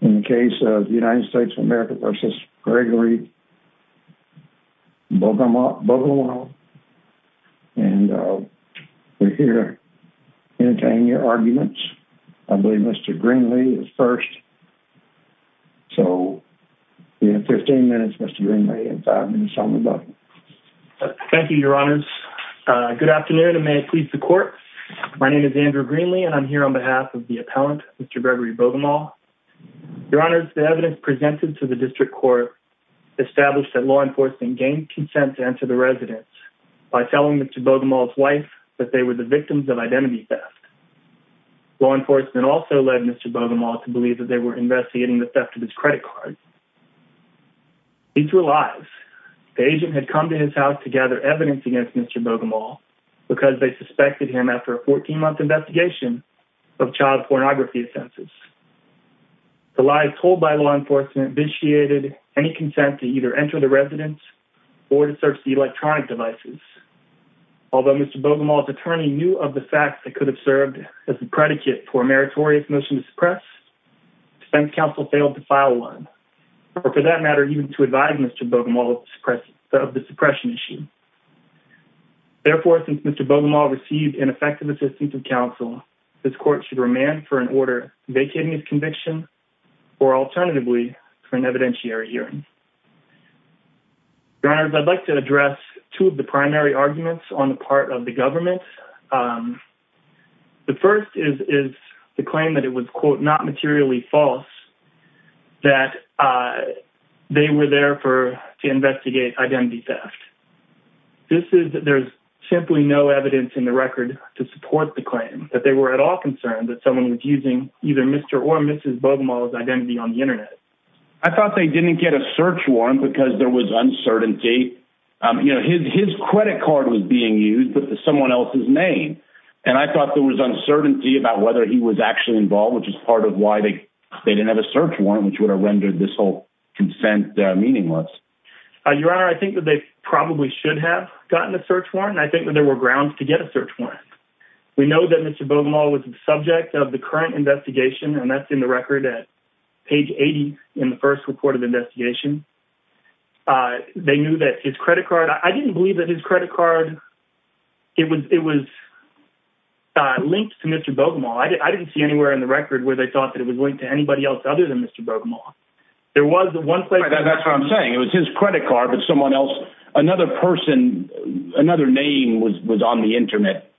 in the case of the United States of America versus Gregory Bogomol and we're here entertaining your arguments. I believe Mr. Greenlee is first. So you have 15 minutes Mr. Greenlee and five minutes on the button. Thank you your honors. Good afternoon and may it please the court. My name is Andrew Greenlee and I'm here on behalf of the appellant Mr. Gregory Bogomol. Your honors the evidence presented to the district court established that law enforcement gained consent to enter the residence by telling Mr. Bogomol's wife that they were the victims of identity theft. Law enforcement also led Mr. Bogomol to believe that they were investigating the theft of his credit card. These were lies. The agent had come to his house to gather evidence against Mr. Bogomol because they suspected him after a 14-month investigation of child pornography offenses. The lies told by law enforcement initiated any consent to either enter the residence or to search the electronic devices. Although Mr. Bogomol's attorney knew of the facts that could have served as a predicate for a meritorious motion to suppress defense counsel failed to file one or for that matter even to advise Mr. Bogomol of the suppression issue. Therefore since Mr. Bogomol received ineffective assistance of counsel this court should remand for an order vacating his conviction or alternatively for an evidentiary hearing. Your honors I'd like to address two of the primary arguments on the part of the government. The first is is the claim that it was quote not materially false that they were there for to investigate identity theft. This is there's simply no evidence in the record to support the at all concern that someone was using either Mr. or Mrs. Bogomol's identity on the internet. I thought they didn't get a search warrant because there was uncertainty. You know his his credit card was being used but someone else's name and I thought there was uncertainty about whether he was actually involved which is part of why they they didn't have a search warrant which would have rendered this whole consent meaningless. Your honor I think that they probably should have gotten a search warrant. I think that there were grounds to get a search warrant. We know that Mr. Bogomol was the subject of the current investigation and that's in the record at page 80 in the first report of investigation. They knew that his credit card I didn't believe that his credit card it was it was linked to Mr. Bogomol. I didn't see anywhere in the record where they thought that it was linked to anybody else other than Mr. Bogomol. There was the one place that's what I'm saying it was his credit card but someone else another person another name was was on the internet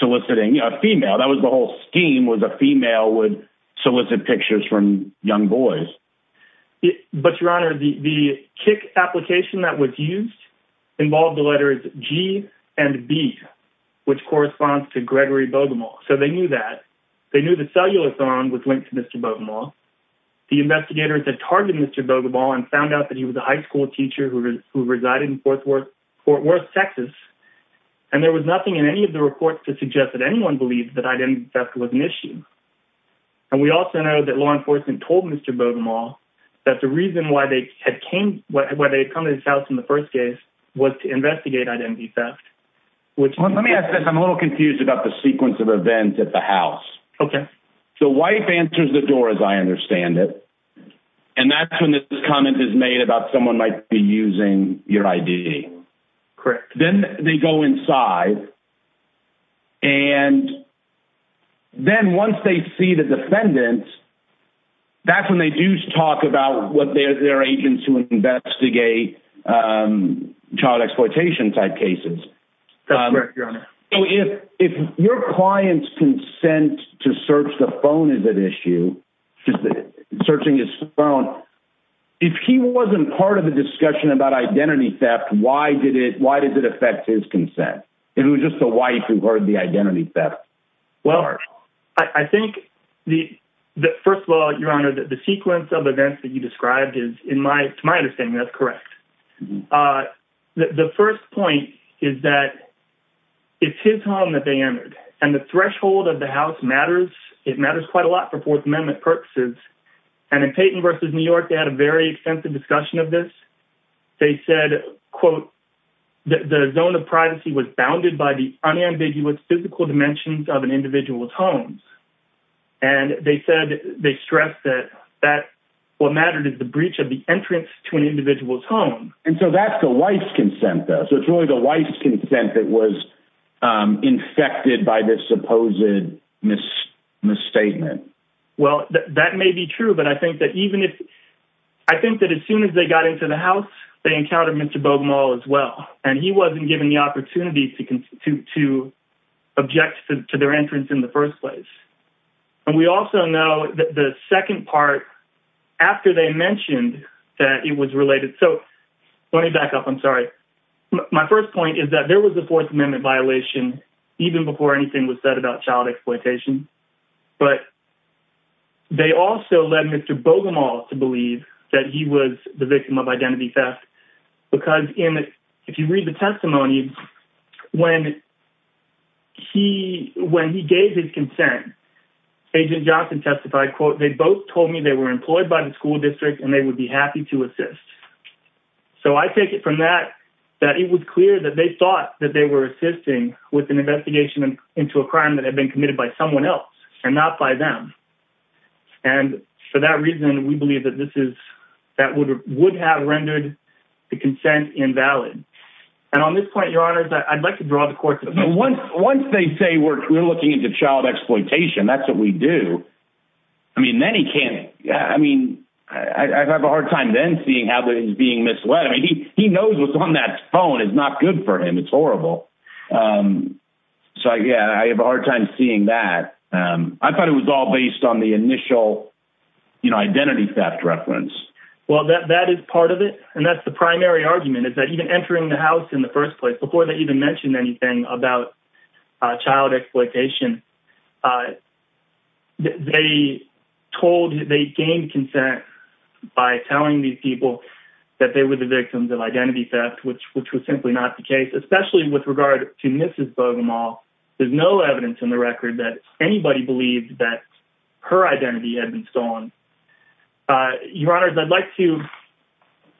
soliciting a female that was the whole scheme was a female would solicit pictures from young boys. But your honor the the kick application that was used involved the letters G and B which corresponds to Gregory Bogomol so they knew that they knew the cellular phone was linked to Mr. Bogomol. The investigators had targeted Mr. Bogomol and found out that he was a high school teacher who resided in Fort Worth Texas and there was nothing in any of the reports to suggest that anyone believed that identity theft was an issue. And we also know that law enforcement told Mr. Bogomol that the reason why they had came why they had come to his house in the first case was to investigate identity theft. Let me ask this I'm a little confused about the sequence of events at the house. Okay. So wife answers the door as I understand it and that's when this comment is made about someone might be using your ID. Correct. Then they go inside and then once they see the defendants that's when they do talk about what their agents who investigate child exploitation type cases. That's correct your honor. So if if your clients consent to search the phone is an issue just searching his phone if he wasn't part of the discussion about identity theft why did it why does it affect his consent? It was just the wife who heard the identity theft. Well I think the that first of all your honor that the sequence of events that you described is in my to my understanding that's correct. The first point is that it's his home that they entered and the threshold of the house matters. It matters quite a lot for fourth amendment purposes and in Payton versus New York they had a very extensive discussion of this. They said quote the zone of privacy was bounded by the unambiguous physical dimensions of an individual's homes and they said they stressed that that what mattered is the breach of the entrance to an individual's home. And so that's the wife's consent though so it's a wife's consent that was infected by this supposed misstatement. Well that may be true but I think that even if I think that as soon as they got into the house they encountered Mr. Bogumal as well and he wasn't given the opportunity to object to their entrance in the first place. And we also know that the second part after they mentioned that it was related so let me back up sorry my first point is that there was a fourth amendment violation even before anything was said about child exploitation but they also led Mr. Bogumal to believe that he was the victim of identity theft because in if you read the testimony when he when he gave his consent agent Johnson testified quote they both told me they were employed by the school district and I take it from that that it was clear that they thought that they were assisting with an investigation into a crime that had been committed by someone else and not by them. And for that reason we believe that this is that would would have rendered the consent invalid. And on this point your honors I'd like to draw the court's attention. Once they say we're looking into child exploitation that's what we do I mean then he can't I mean I have a hard time then seeing how he's being misled I mean he he knows what's on that phone is not good for him it's horrible. So yeah I have a hard time seeing that. I thought it was all based on the initial you know identity theft reference. Well that that is part of it and that's the primary argument is that even entering the house in the first place before they even mentioned anything about child exploitation they told they gained consent by telling these people that they were the victims of identity theft which which was simply not the case especially with regard to Mrs. Bogomol. There's no evidence in the record that anybody believed that her identity had been stolen. Your honors I'd like to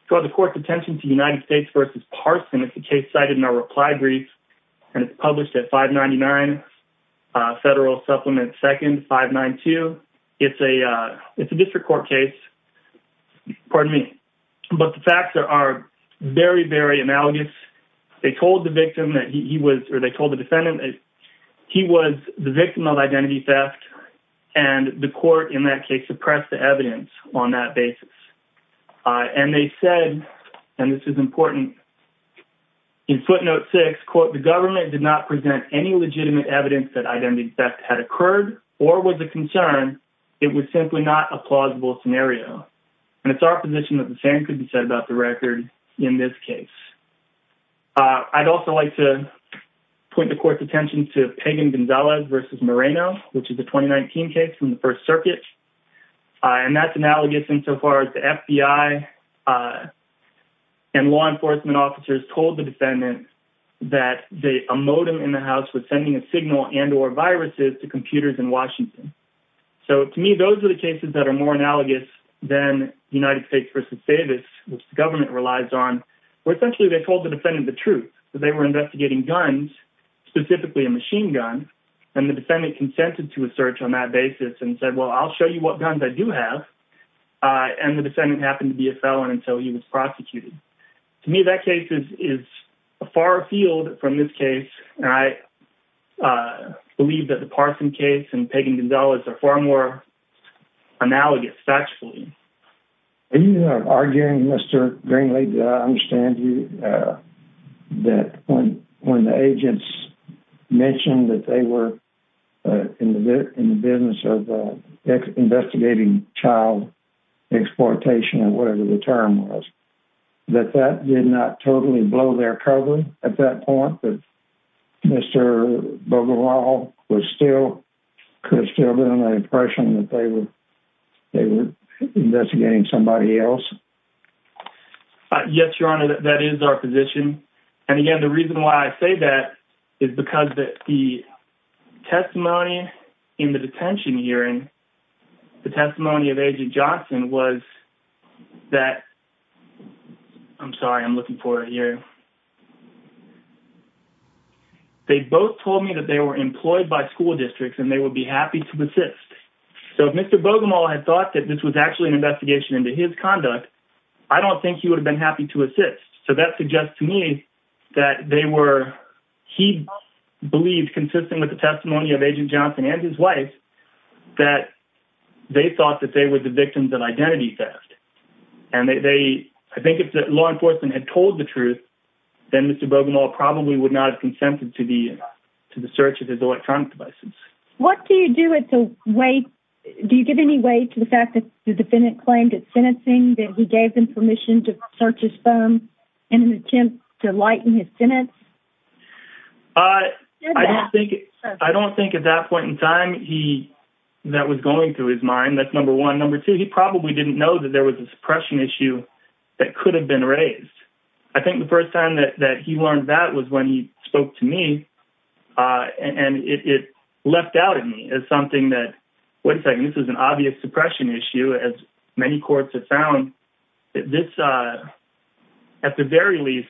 draw the court's attention to United States versus Parson. It's a case cited in our reply brief and it's published at 599 Federal Supplement 2nd 592. It's a it's a district court case pardon me but the facts are very very analogous. They told the victim that he was or they told the defendant that he was the victim of identity theft and the court in that case suppressed the evidence on that basis and they said and this is important in footnote 6 quote the government did not present any legitimate evidence that identity theft had occurred or was a concern it was simply not a plausible scenario and it's our position that the same could be said about the record in this case. I'd also like to point the court's attention to Pagan Gonzalez versus Moreno which is a 2019 case from the first circuit and that's analogous so far as the FBI and law enforcement officers told the defendant that a modem in the house was sending a signal and or viruses to computers in Washington. So to me those are the cases that are more analogous than United States versus Davis which the government relies on where essentially they told the defendant the truth. They were investigating guns specifically a machine gun and the defendant consented to a search on that basis and said well I'll show you what guns I do have and the defendant happened to be a felon until he was prosecuted. To me that case is a far field from this case and I believe that the Parson case and Pagan Gonzalez are far more analogous statute. Are you arguing Mr. Greenlee that I understand you that when the agents mentioned that they were in the in the business of investigating child exploitation or whatever the term was that that did not totally blow their cover at that point that Mr. Bogorol was still could still been an impression that they were they were investigating somebody else? Yes your honor that is our position and again the reason why I say that is because that the testimony in the detention hearing the testimony of Agent Johnson was that I'm sorry I'm looking for it here they both told me that they were employed by school districts and they would be happy to assist. So if Mr. Bogomol had thought that this was actually an investigation into his conduct I don't think he would have been happy to assist. So that suggests to me that they were he believed consistent with the testimony of Agent Johnson and his wife that they thought that they were the victims of identity theft and they I think if the law enforcement had told the truth then Mr. Bogomol probably would not have consented to the to the search of his electronic devices. What do you do at the wait do you give any weight to the fact that the defendant claimed that sentencing that he gave them permission to search his phone in an attempt to lighten his sentence? I don't think at that point in time he that was going through his mind that's number one number two he probably didn't know that there was a suppression issue that could have been raised. I think the first time that that he learned that was when he spoke to me and it left out of me as something that wait a second this is an obvious suppression issue as many courts have found that this at the very least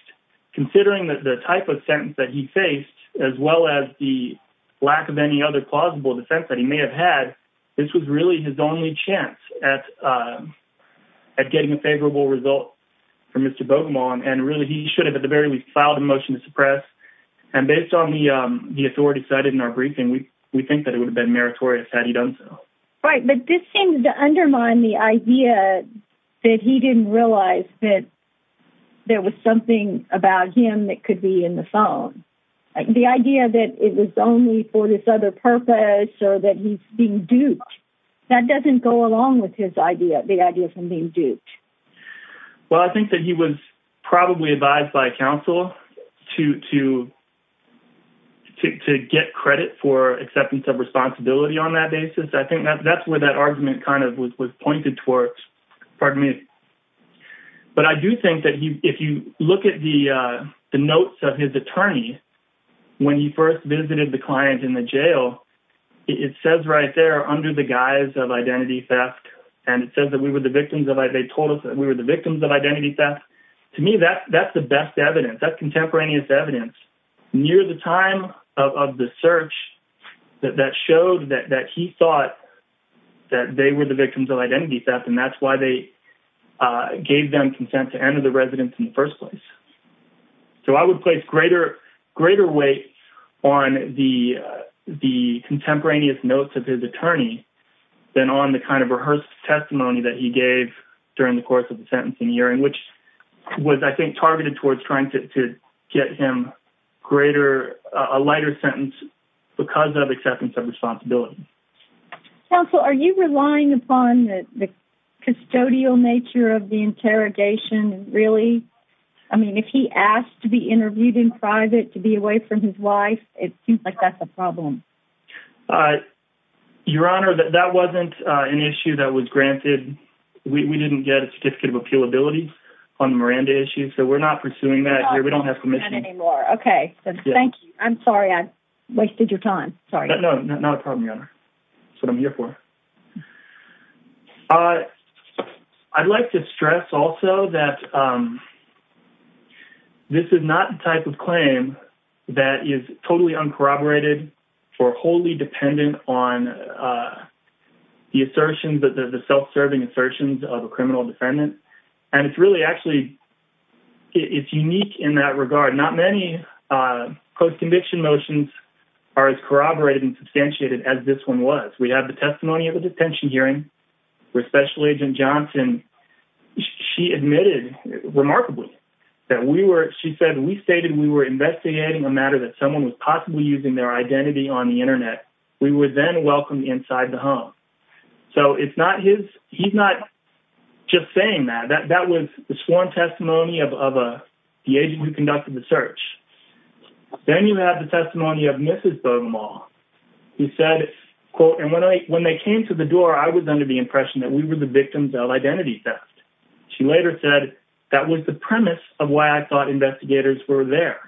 considering that the type of sentence that he faced as well as the lack of any other plausible defense that he may have had this was really his only chance at getting a favorable result for Mr. Bogomol and really he should have at the very least filed a motion to suppress and based on the authority cited in our briefing we think that it would have been meritorious had he done so. Right but this seems to undermine the idea that he didn't realize that there was something about him that could be in the phone. The idea that it was only for this other purpose or that he's being duped that doesn't go along with his idea the idea of him being duped. Well I think that he was probably advised by counsel to to to get credit for acceptance of responsibility on that basis I think that that's where that argument kind of was was pointed towards pardon me but I do think that he if you look at the uh the notes of his attorney when he first visited the client in the jail it says right there under the guise of identity theft and it says that we were the victims of they told us that we were the victims of identity theft to me that that's the best evidence that contemporaneous evidence near the time of the search that that showed that that he thought that they were the victims of identity theft and that's uh gave them consent to enter the residence in the first place so I would place greater greater weight on the the contemporaneous notes of his attorney than on the kind of rehearsed testimony that he gave during the course of the sentencing hearing which was I think targeted towards trying to get him greater a lighter sentence because of acceptance of responsibility counsel are you relying upon the custodial nature of the interrogation really I mean if he asked to be interviewed in private to be away from his wife it seems like that's a problem uh your honor that that wasn't uh an issue that was granted we didn't get a certificate of appeal abilities on the Miranda issue so we're not pursuing that here we don't have permission anymore okay so thank you I'm sorry I wasted your time sorry no not a problem your honor that's what I'm here for uh I'd like to stress also that um this is not the type of claim that is totally uncorroborated or wholly dependent on uh the assertion but the self-serving assertions of a criminal defendant and it's really actually it's unique in that regard not many uh post-conviction motions are as corroborated and substantiated as this one was we have the testimony of a detention hearing where special agent Johnson she admitted remarkably that we were she said we stated we were investigating a matter that someone was possibly using their identity on the internet we would then welcome inside the home so it's not his he's not just saying that that that was the sworn testimony of a the agent who conducted the search then you have the testimony of mrs Bogomol who said quote and when I when they came to the door I was under the impression that we were the victims of identity theft she later said that was the premise of why I thought investigators were there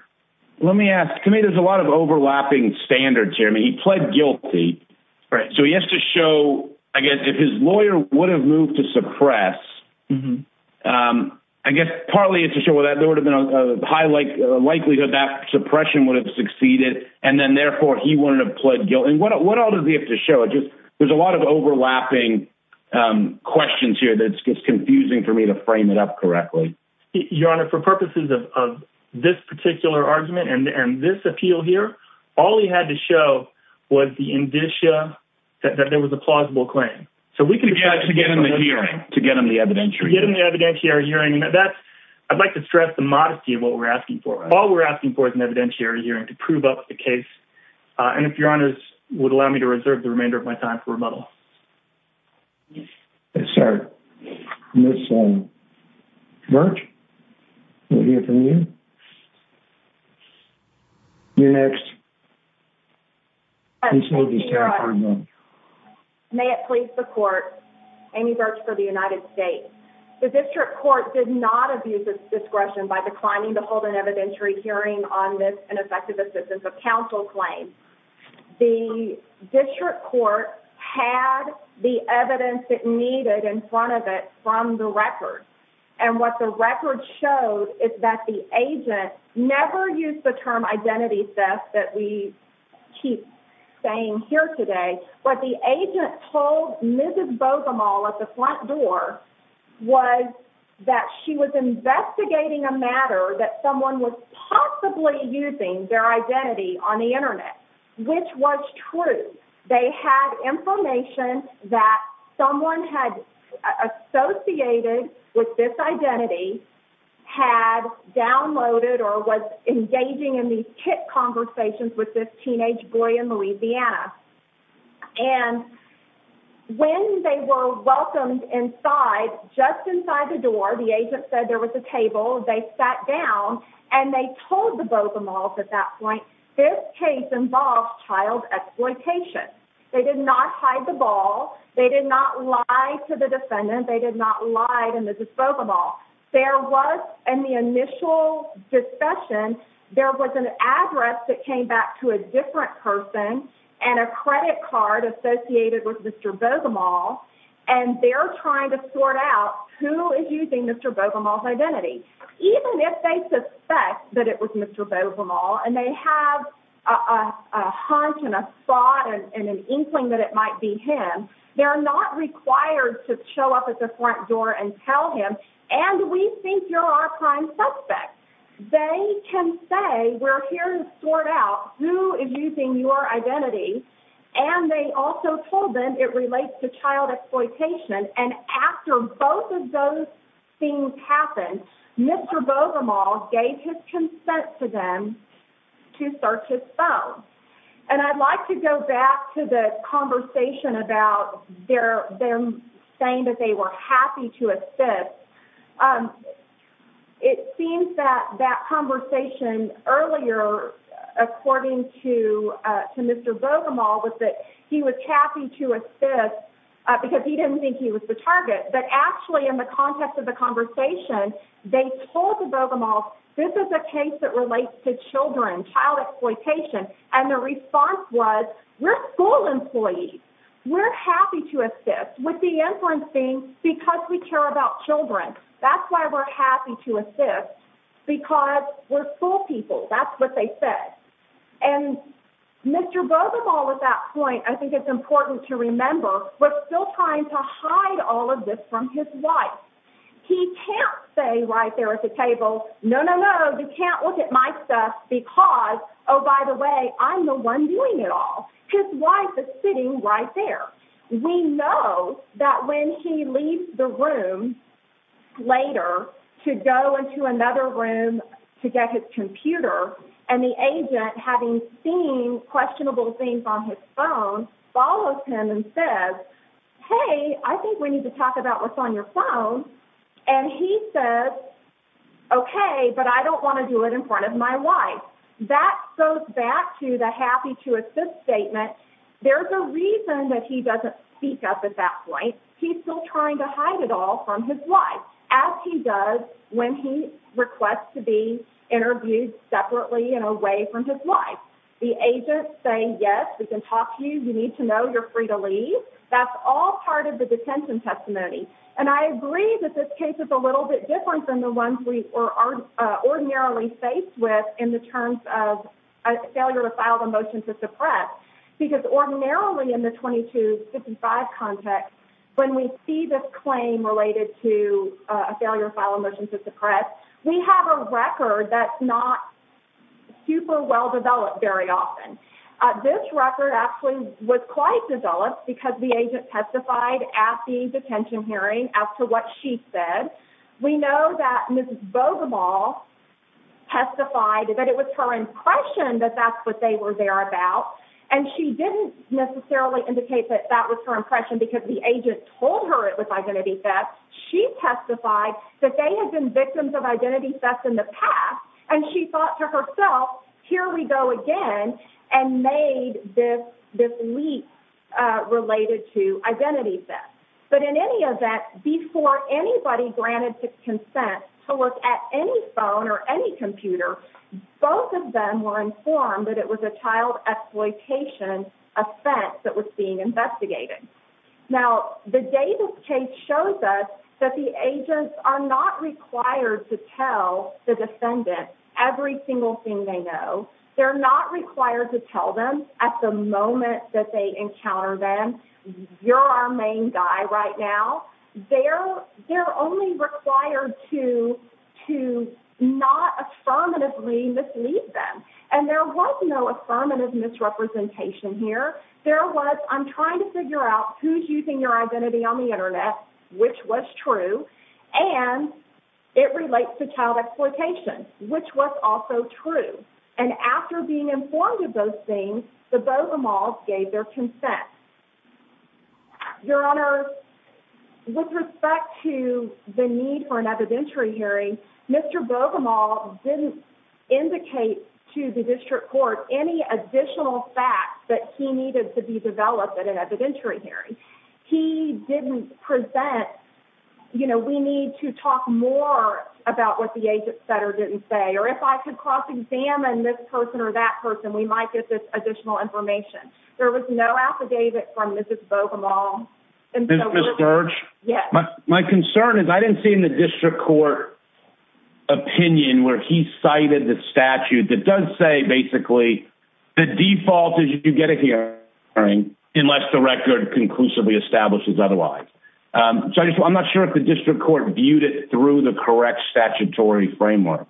let me ask me there's a lot of overlapping standards here I mean he pled guilty right so he has to show I guess if his lawyer would have moved to suppress um I guess partly it's a show that there would have been a high like likelihood that suppression would have succeeded and then therefore he wouldn't have pled guilty what all does he have to show it just there's a lot of overlapping um questions here that's confusing for me to frame it up correctly your honor for purposes of of this particular argument and and this appeal here all he had to show was the indicia that there was a plausible claim so we can get to get in the hearing to get on the evidentiary get in the evidentiary hearing that's I'd like to stress the modesty of what we're asking for all we're asking for is an evidentiary hearing to prove up the case uh and if your honors would allow me to reserve the remainder of my time for rebuttal yes sir this one birch you're next may it please the court amy birch for the united states the district court did not abuse this discretion by declining to hold an evidentiary hearing on this ineffective assistance of council claim the district court had the evidence it needed in front of it from the record and what the record showed is that the agent never used the term identity theft that we keep saying here today what the agent told mrs bogemol at the front door was that she was investigating a matter that someone was possibly using their identity on the internet which was true they had information that someone had associated with this identity had downloaded or was engaging in these tip conversations with this teenage boy in louisiana and when they were welcomed inside just inside the door the agent said there was a table they sat down and they told the bogemol at that point this case involved child exploitation they did not hide the ball they did not lie to the defendant they did not lie to mrs bogemol there was in the initial discussion there was an address that came back to a different person and a credit card associated with mr bogemol and they're trying to sort out who is using mr bogemol's identity even if they suspect that it was mr bogemol and they have a a hunt and a spot and an inkling that it might be him they're not required to show up at the front door and tell him and we think you're our prime suspect they can say we're here to sort out who is using your identity and they also told them it relates to child exploitation and after both of those things happened mr bogemol gave his consent to them to search his phone and i'd like to go back to the conversation about their them saying that they were happy to assist um it seems that that conversation earlier according to uh to mr bogemol was that he was happy to assist because he didn't think he was the target but actually in the context of the conversation they told the bogemol this is a case that relates to children child exploitation and the response was we're school employees we're happy to assist with the inference being because we care about children that's why we're happy to assist because we're school people that's what they said and mr bogemol at that point i think it's important to remember we're still trying to hide all of this from his wife he can't say right there at the table no no no you can't look at my stuff because oh by the way i'm the one doing it all his wife is sitting right there we know that when he leaves the room later to go into another room to get his computer and the agent having seen questionable things on his phone follows him and says hey i think we need to talk about what's on your phone and he says okay but i don't want to do it in front of my wife that goes back to the happy to assist statement there's a reason that he doesn't speak up at that point he's still trying to hide it all from his wife as he does when he requests to be interviewed separately and away from his wife the agent saying yes we can talk to you you need to know you're free to leave that's all part of the detention testimony and i agree that this case is a little bit different than the ones we are ordinarily faced with in the terms of a failure to file the motion to suppress because ordinarily in the 2255 context when we see this claim related to a failure to file a motion to suppress we have a record that's not super well developed very often this record actually was quite developed because the agent testified at the detention hearing as to what she said we know that miss bogemol testified that it was her impression that that's what they were there about and she didn't necessarily indicate that that was her impression because the agent told her it was identity theft she testified that they had been victims of identity theft in the past and she thought to herself here we go again and made this this leak uh related to identity theft but in any event before anybody granted consent to look at any phone or any computer both of them were informed that it was a child exploitation offense that was being investigated now the day this case shows us that the agents are not required to tell the defendant every single thing they know they're not required to tell them at the moment that they encounter them you're our main guy right now they're they're only required to to not affirmatively mislead them and there was no affirmative misrepresentation here there was i'm trying to figure out who's using your identity on the internet which was true and it relates to child exploitation which was also true and after being informed of those the bogemals gave their consent your honor with respect to the need for an evidentiary hearing mr bogemol didn't indicate to the district court any additional facts that he needed to be developed at an evidentiary hearing he didn't present you know we need to talk more about what the agent or that person we might get this additional information there was no affidavit from mrs bogemol search yes my concern is i didn't see in the district court opinion where he cited the statute that does say basically the default is you get a hearing unless the record conclusively establishes otherwise um so i'm not sure if the district court viewed it through the correct statutory framework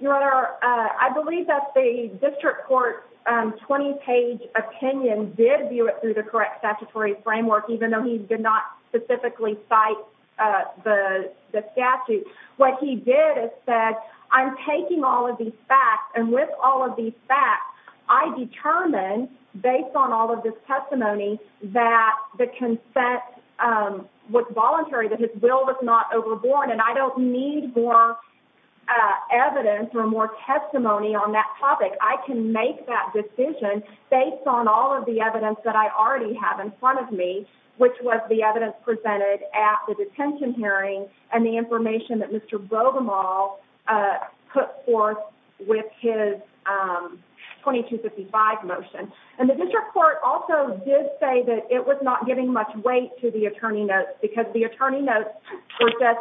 your honor uh i believe that the district court um 20 page opinion did view it through the correct statutory framework even though he did not specifically cite uh the the statute what he did is said i'm taking all of these facts and with all of these facts i determined based on all of this testimony that the consent um was voluntary that his will was overboard and i don't need more uh evidence or more testimony on that topic i can make that decision based on all of the evidence that i already have in front of me which was the evidence presented at the detention hearing and the information that mr bogemol uh put forth with his um 2255 motion and the district court also did say that it was not giving much weight to the attorney notes were just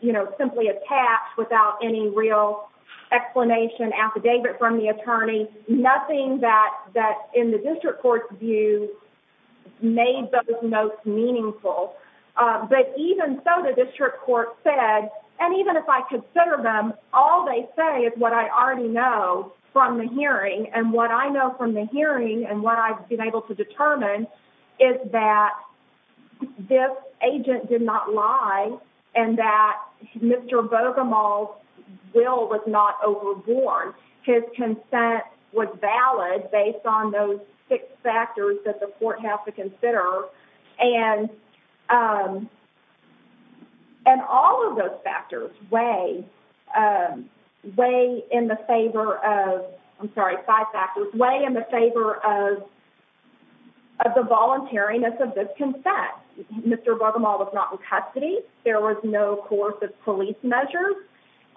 you know simply attached without any real explanation affidavit from the attorney nothing that that in the district court's view made those notes meaningful uh but even so the district court said and even if i consider them all they say is what i already know from the hearing and what i know from the hearing and what i've been able to determine is that this agent did not lie and that mr bogemol's will was not overboard his consent was valid based on those six factors that the court has to consider and um and all of those factors way um way in the favor of i'm sorry five factors way in the favor of of the voluntariness of this consent mr bogemol was not in custody there was no coercive police measures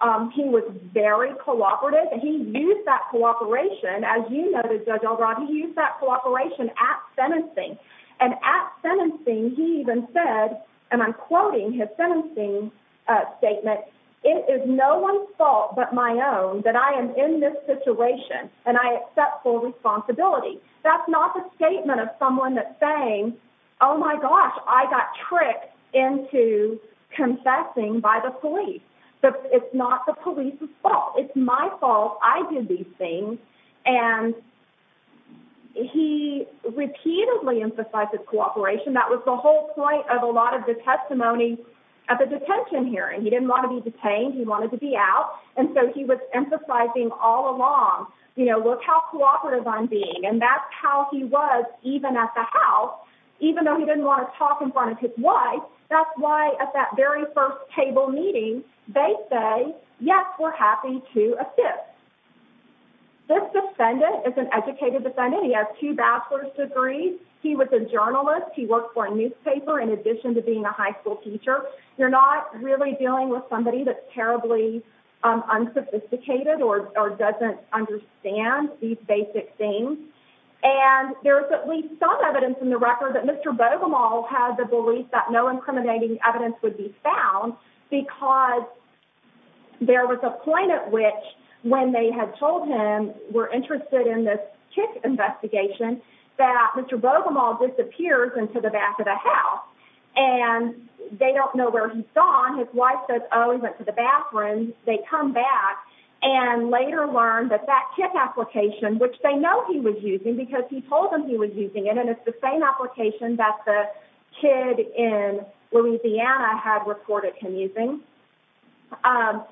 um he was very cooperative and he used that cooperation as you noted judge albright he used that cooperation at sentencing and at sentencing he even said and i'm quoting his sentencing uh statement it is no one's fault but my own that i am in this situation and i accept full responsibility that's not the statement of someone that's saying oh my gosh i got tricked into confessing by the police but it's not the police's fault it's my fault i did these things and he repeatedly emphasized his cooperation that was the whole point of a lot of the testimony at the detention hearing he didn't want to be detained he wanted to be out and so he was cooperative on being and that's how he was even at the house even though he didn't want to talk in front of his wife that's why at that very first table meeting they say yes we're happy to assist this defendant is an educated defendant he has two bachelor's degrees he was a journalist he worked for a newspaper in addition to being a high school teacher you're not really dealing somebody that's terribly unsophisticated or or doesn't understand these basic things and there's at least some evidence in the record that mr bogemol had the belief that no incriminating evidence would be found because there was a point at which when they had told him we're interested in this kick investigation that mr bogemol disappears into the back of the house and they don't know where he's gone his wife says oh he went to the bathroom they come back and later learned that that kick application which they know he was using because he told them he was using it and it's the same application that the kid in louisiana had reported him using um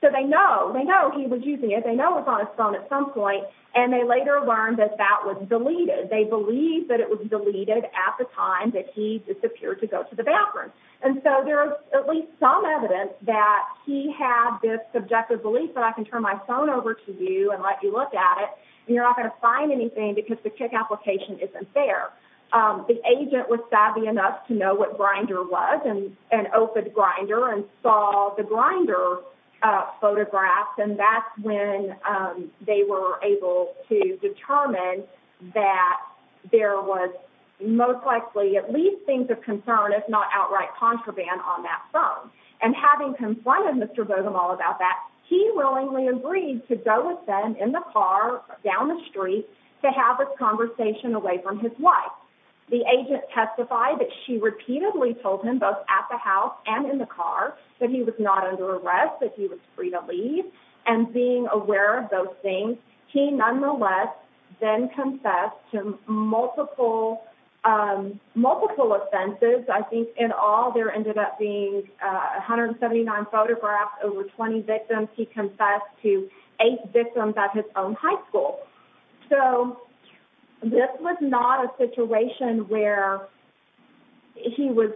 so they know they know he was using it they know it's on his phone at some point and they later learned that that was deleted they believed that it was deleted at the time that he disappeared to go to the bathroom and so there's at least some evidence that he had this subjective belief that i can turn my phone over to you and let you look at it and you're not going to find anything because the kick application isn't there um the agent was savvy enough to know what grinder was and an open grinder and saw the grinder uh photographs and that's when um they were able to determine that there was most likely at least things of concern if not outright contraband on that phone and having confronted mr bogemol about that he willingly agreed to go with them in the car down the street to have a conversation away from his wife the agent testified that she repeatedly told him both at the house and in the car that he was not under arrest that he was free and being aware of those things he nonetheless then confessed to multiple um multiple offenses i think in all there ended up being 179 photographs over 20 victims he confessed to eight victims at his own high school so this was not a situation where he was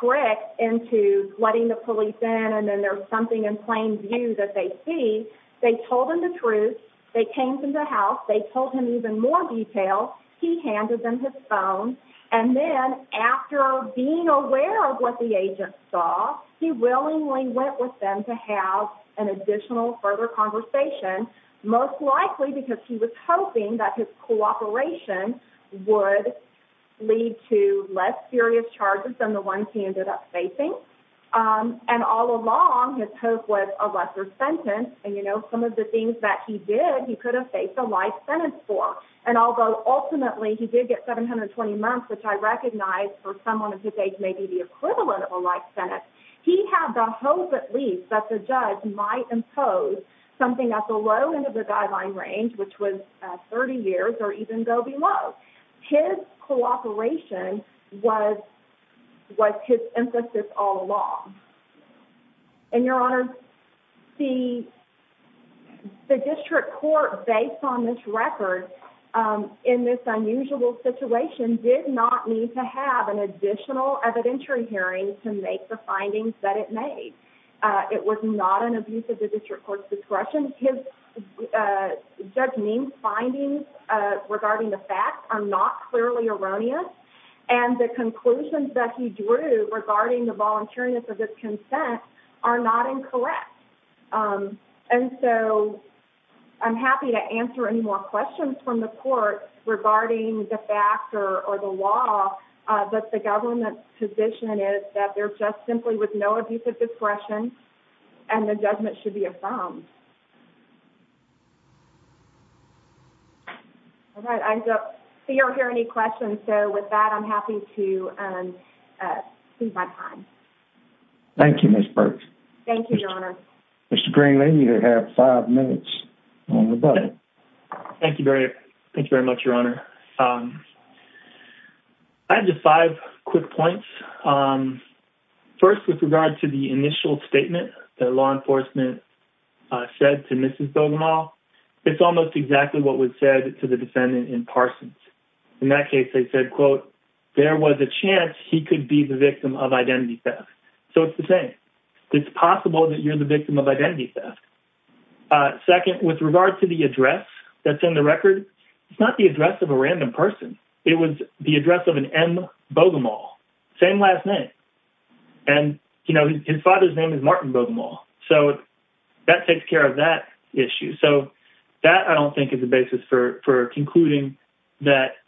tricked into letting the police in and then there's something in plain view that they see they told him the truth they came from the house they told him even more detail he handed them his phone and then after being aware of what the agent saw he willingly went with them to have an additional further conversation most likely because he was hoping that his cooperation would lead to less serious charges than the ones he ended up facing um and all along his hope was a lesser sentence and you know some of the things that he did he could have faced a life sentence for and although ultimately he did get 720 months which i recognize for someone of his age may be the equivalent of a life sentence he had the hope at least that the judge might impose something at low end of the guideline range which was 30 years or even go below his cooperation was was his emphasis all along and your honor the the district court based on this record in this unusual situation did not need to have an additional evidentiary hearing to make the court's discretion his uh judge means findings uh regarding the facts are not clearly erroneous and the conclusions that he drew regarding the voluntariness of his consent are not incorrect and so i'm happy to answer any more questions from the court regarding the fact or the law that the government's position is that they're just simply with no abuse of discretion and the judgment should be affirmed all right i don't see or hear any questions so with that i'm happy to um uh seize my time thank you miss burke thank you your honor mr green lady you have five minutes thank you very thank you very much your honor um i have just five quick points um first with regard to the initial statement that law enforcement uh said to mrs bogomol it's almost exactly what was said to the defendant in parsons in that case they said quote there was a chance he could be the victim of identity theft so it's the same it's possible that you're the victim of identity theft uh second with regard to the address that's in the record it's not the address of a you know his father's name is martin bogomol so that takes care of that issue so that i don't think is the basis for for concluding that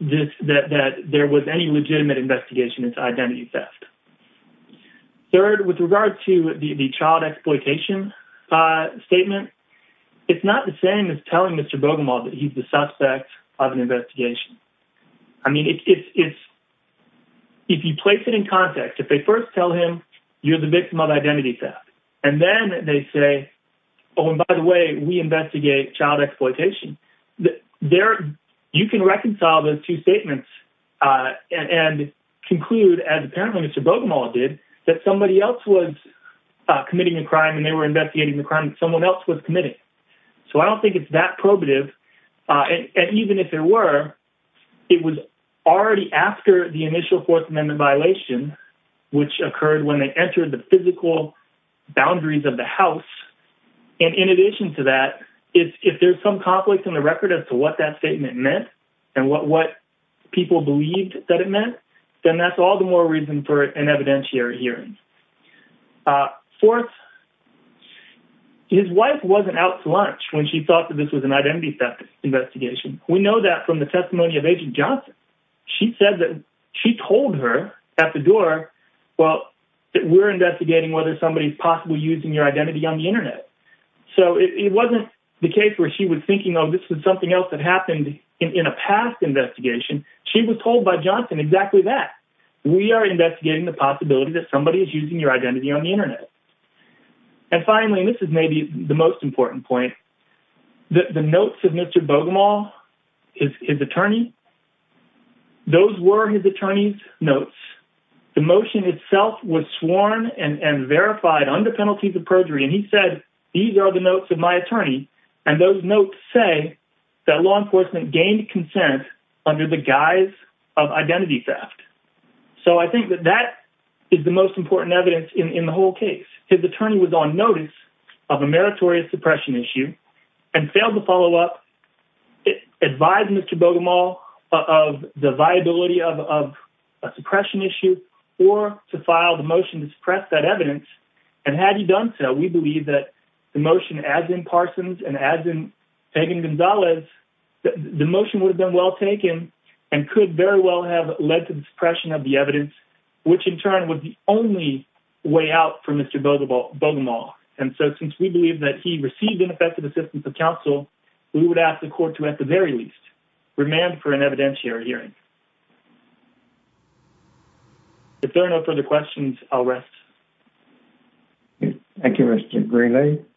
this that that there was any legitimate investigation into identity theft third with regard to the child exploitation uh statement it's not the same as telling mr bogomol that he's the suspect of an investigation i mean it's if you place it context if they first tell him you're the victim of identity theft and then they say oh and by the way we investigate child exploitation there you can reconcile those two statements uh and conclude as apparently mr bogomol did that somebody else was uh committing a crime and they were investigating the crime someone else was committing so i don't think it's that probative uh and even if there it was already after the initial fourth amendment violation which occurred when they entered the physical boundaries of the house and in addition to that if there's some conflict in the record as to what that statement meant and what what people believed that it meant then that's all the more reason for an evidentiary hearing uh fourth his wife wasn't out to lunch when she thought that this was an identity theft investigation we know that from the testimony of agent johnson she said that she told her at the door well that we're investigating whether somebody's possibly using your identity on the internet so it wasn't the case where she was thinking oh this was something else that happened in a past investigation she was told by johnson exactly that we are investigating the possibility that somebody is using your identity on the the notes of mr bogomol his attorney those were his attorney's notes the motion itself was sworn and and verified under penalties of perjury and he said these are the notes of my attorney and those notes say that law enforcement gained consent under the guise of identity theft so i think that that is the most important evidence in in the whole case his attorney was on notice of a meritorious suppression issue and failed to follow up advise mr bogomol of the viability of of a suppression issue or to file the motion to suppress that evidence and had he done so we believe that the motion as in parsons and as in tegan gonzalez the motion would have been well taken and could very well have led to the suppression of the evidence which in turn was the only way out for mr bogomol and so since we believe that he received ineffective assistance of counsel we would ask the court to at the very least remand for an evidentiary hearing if there are no further questions i'll rest thank you mr grayley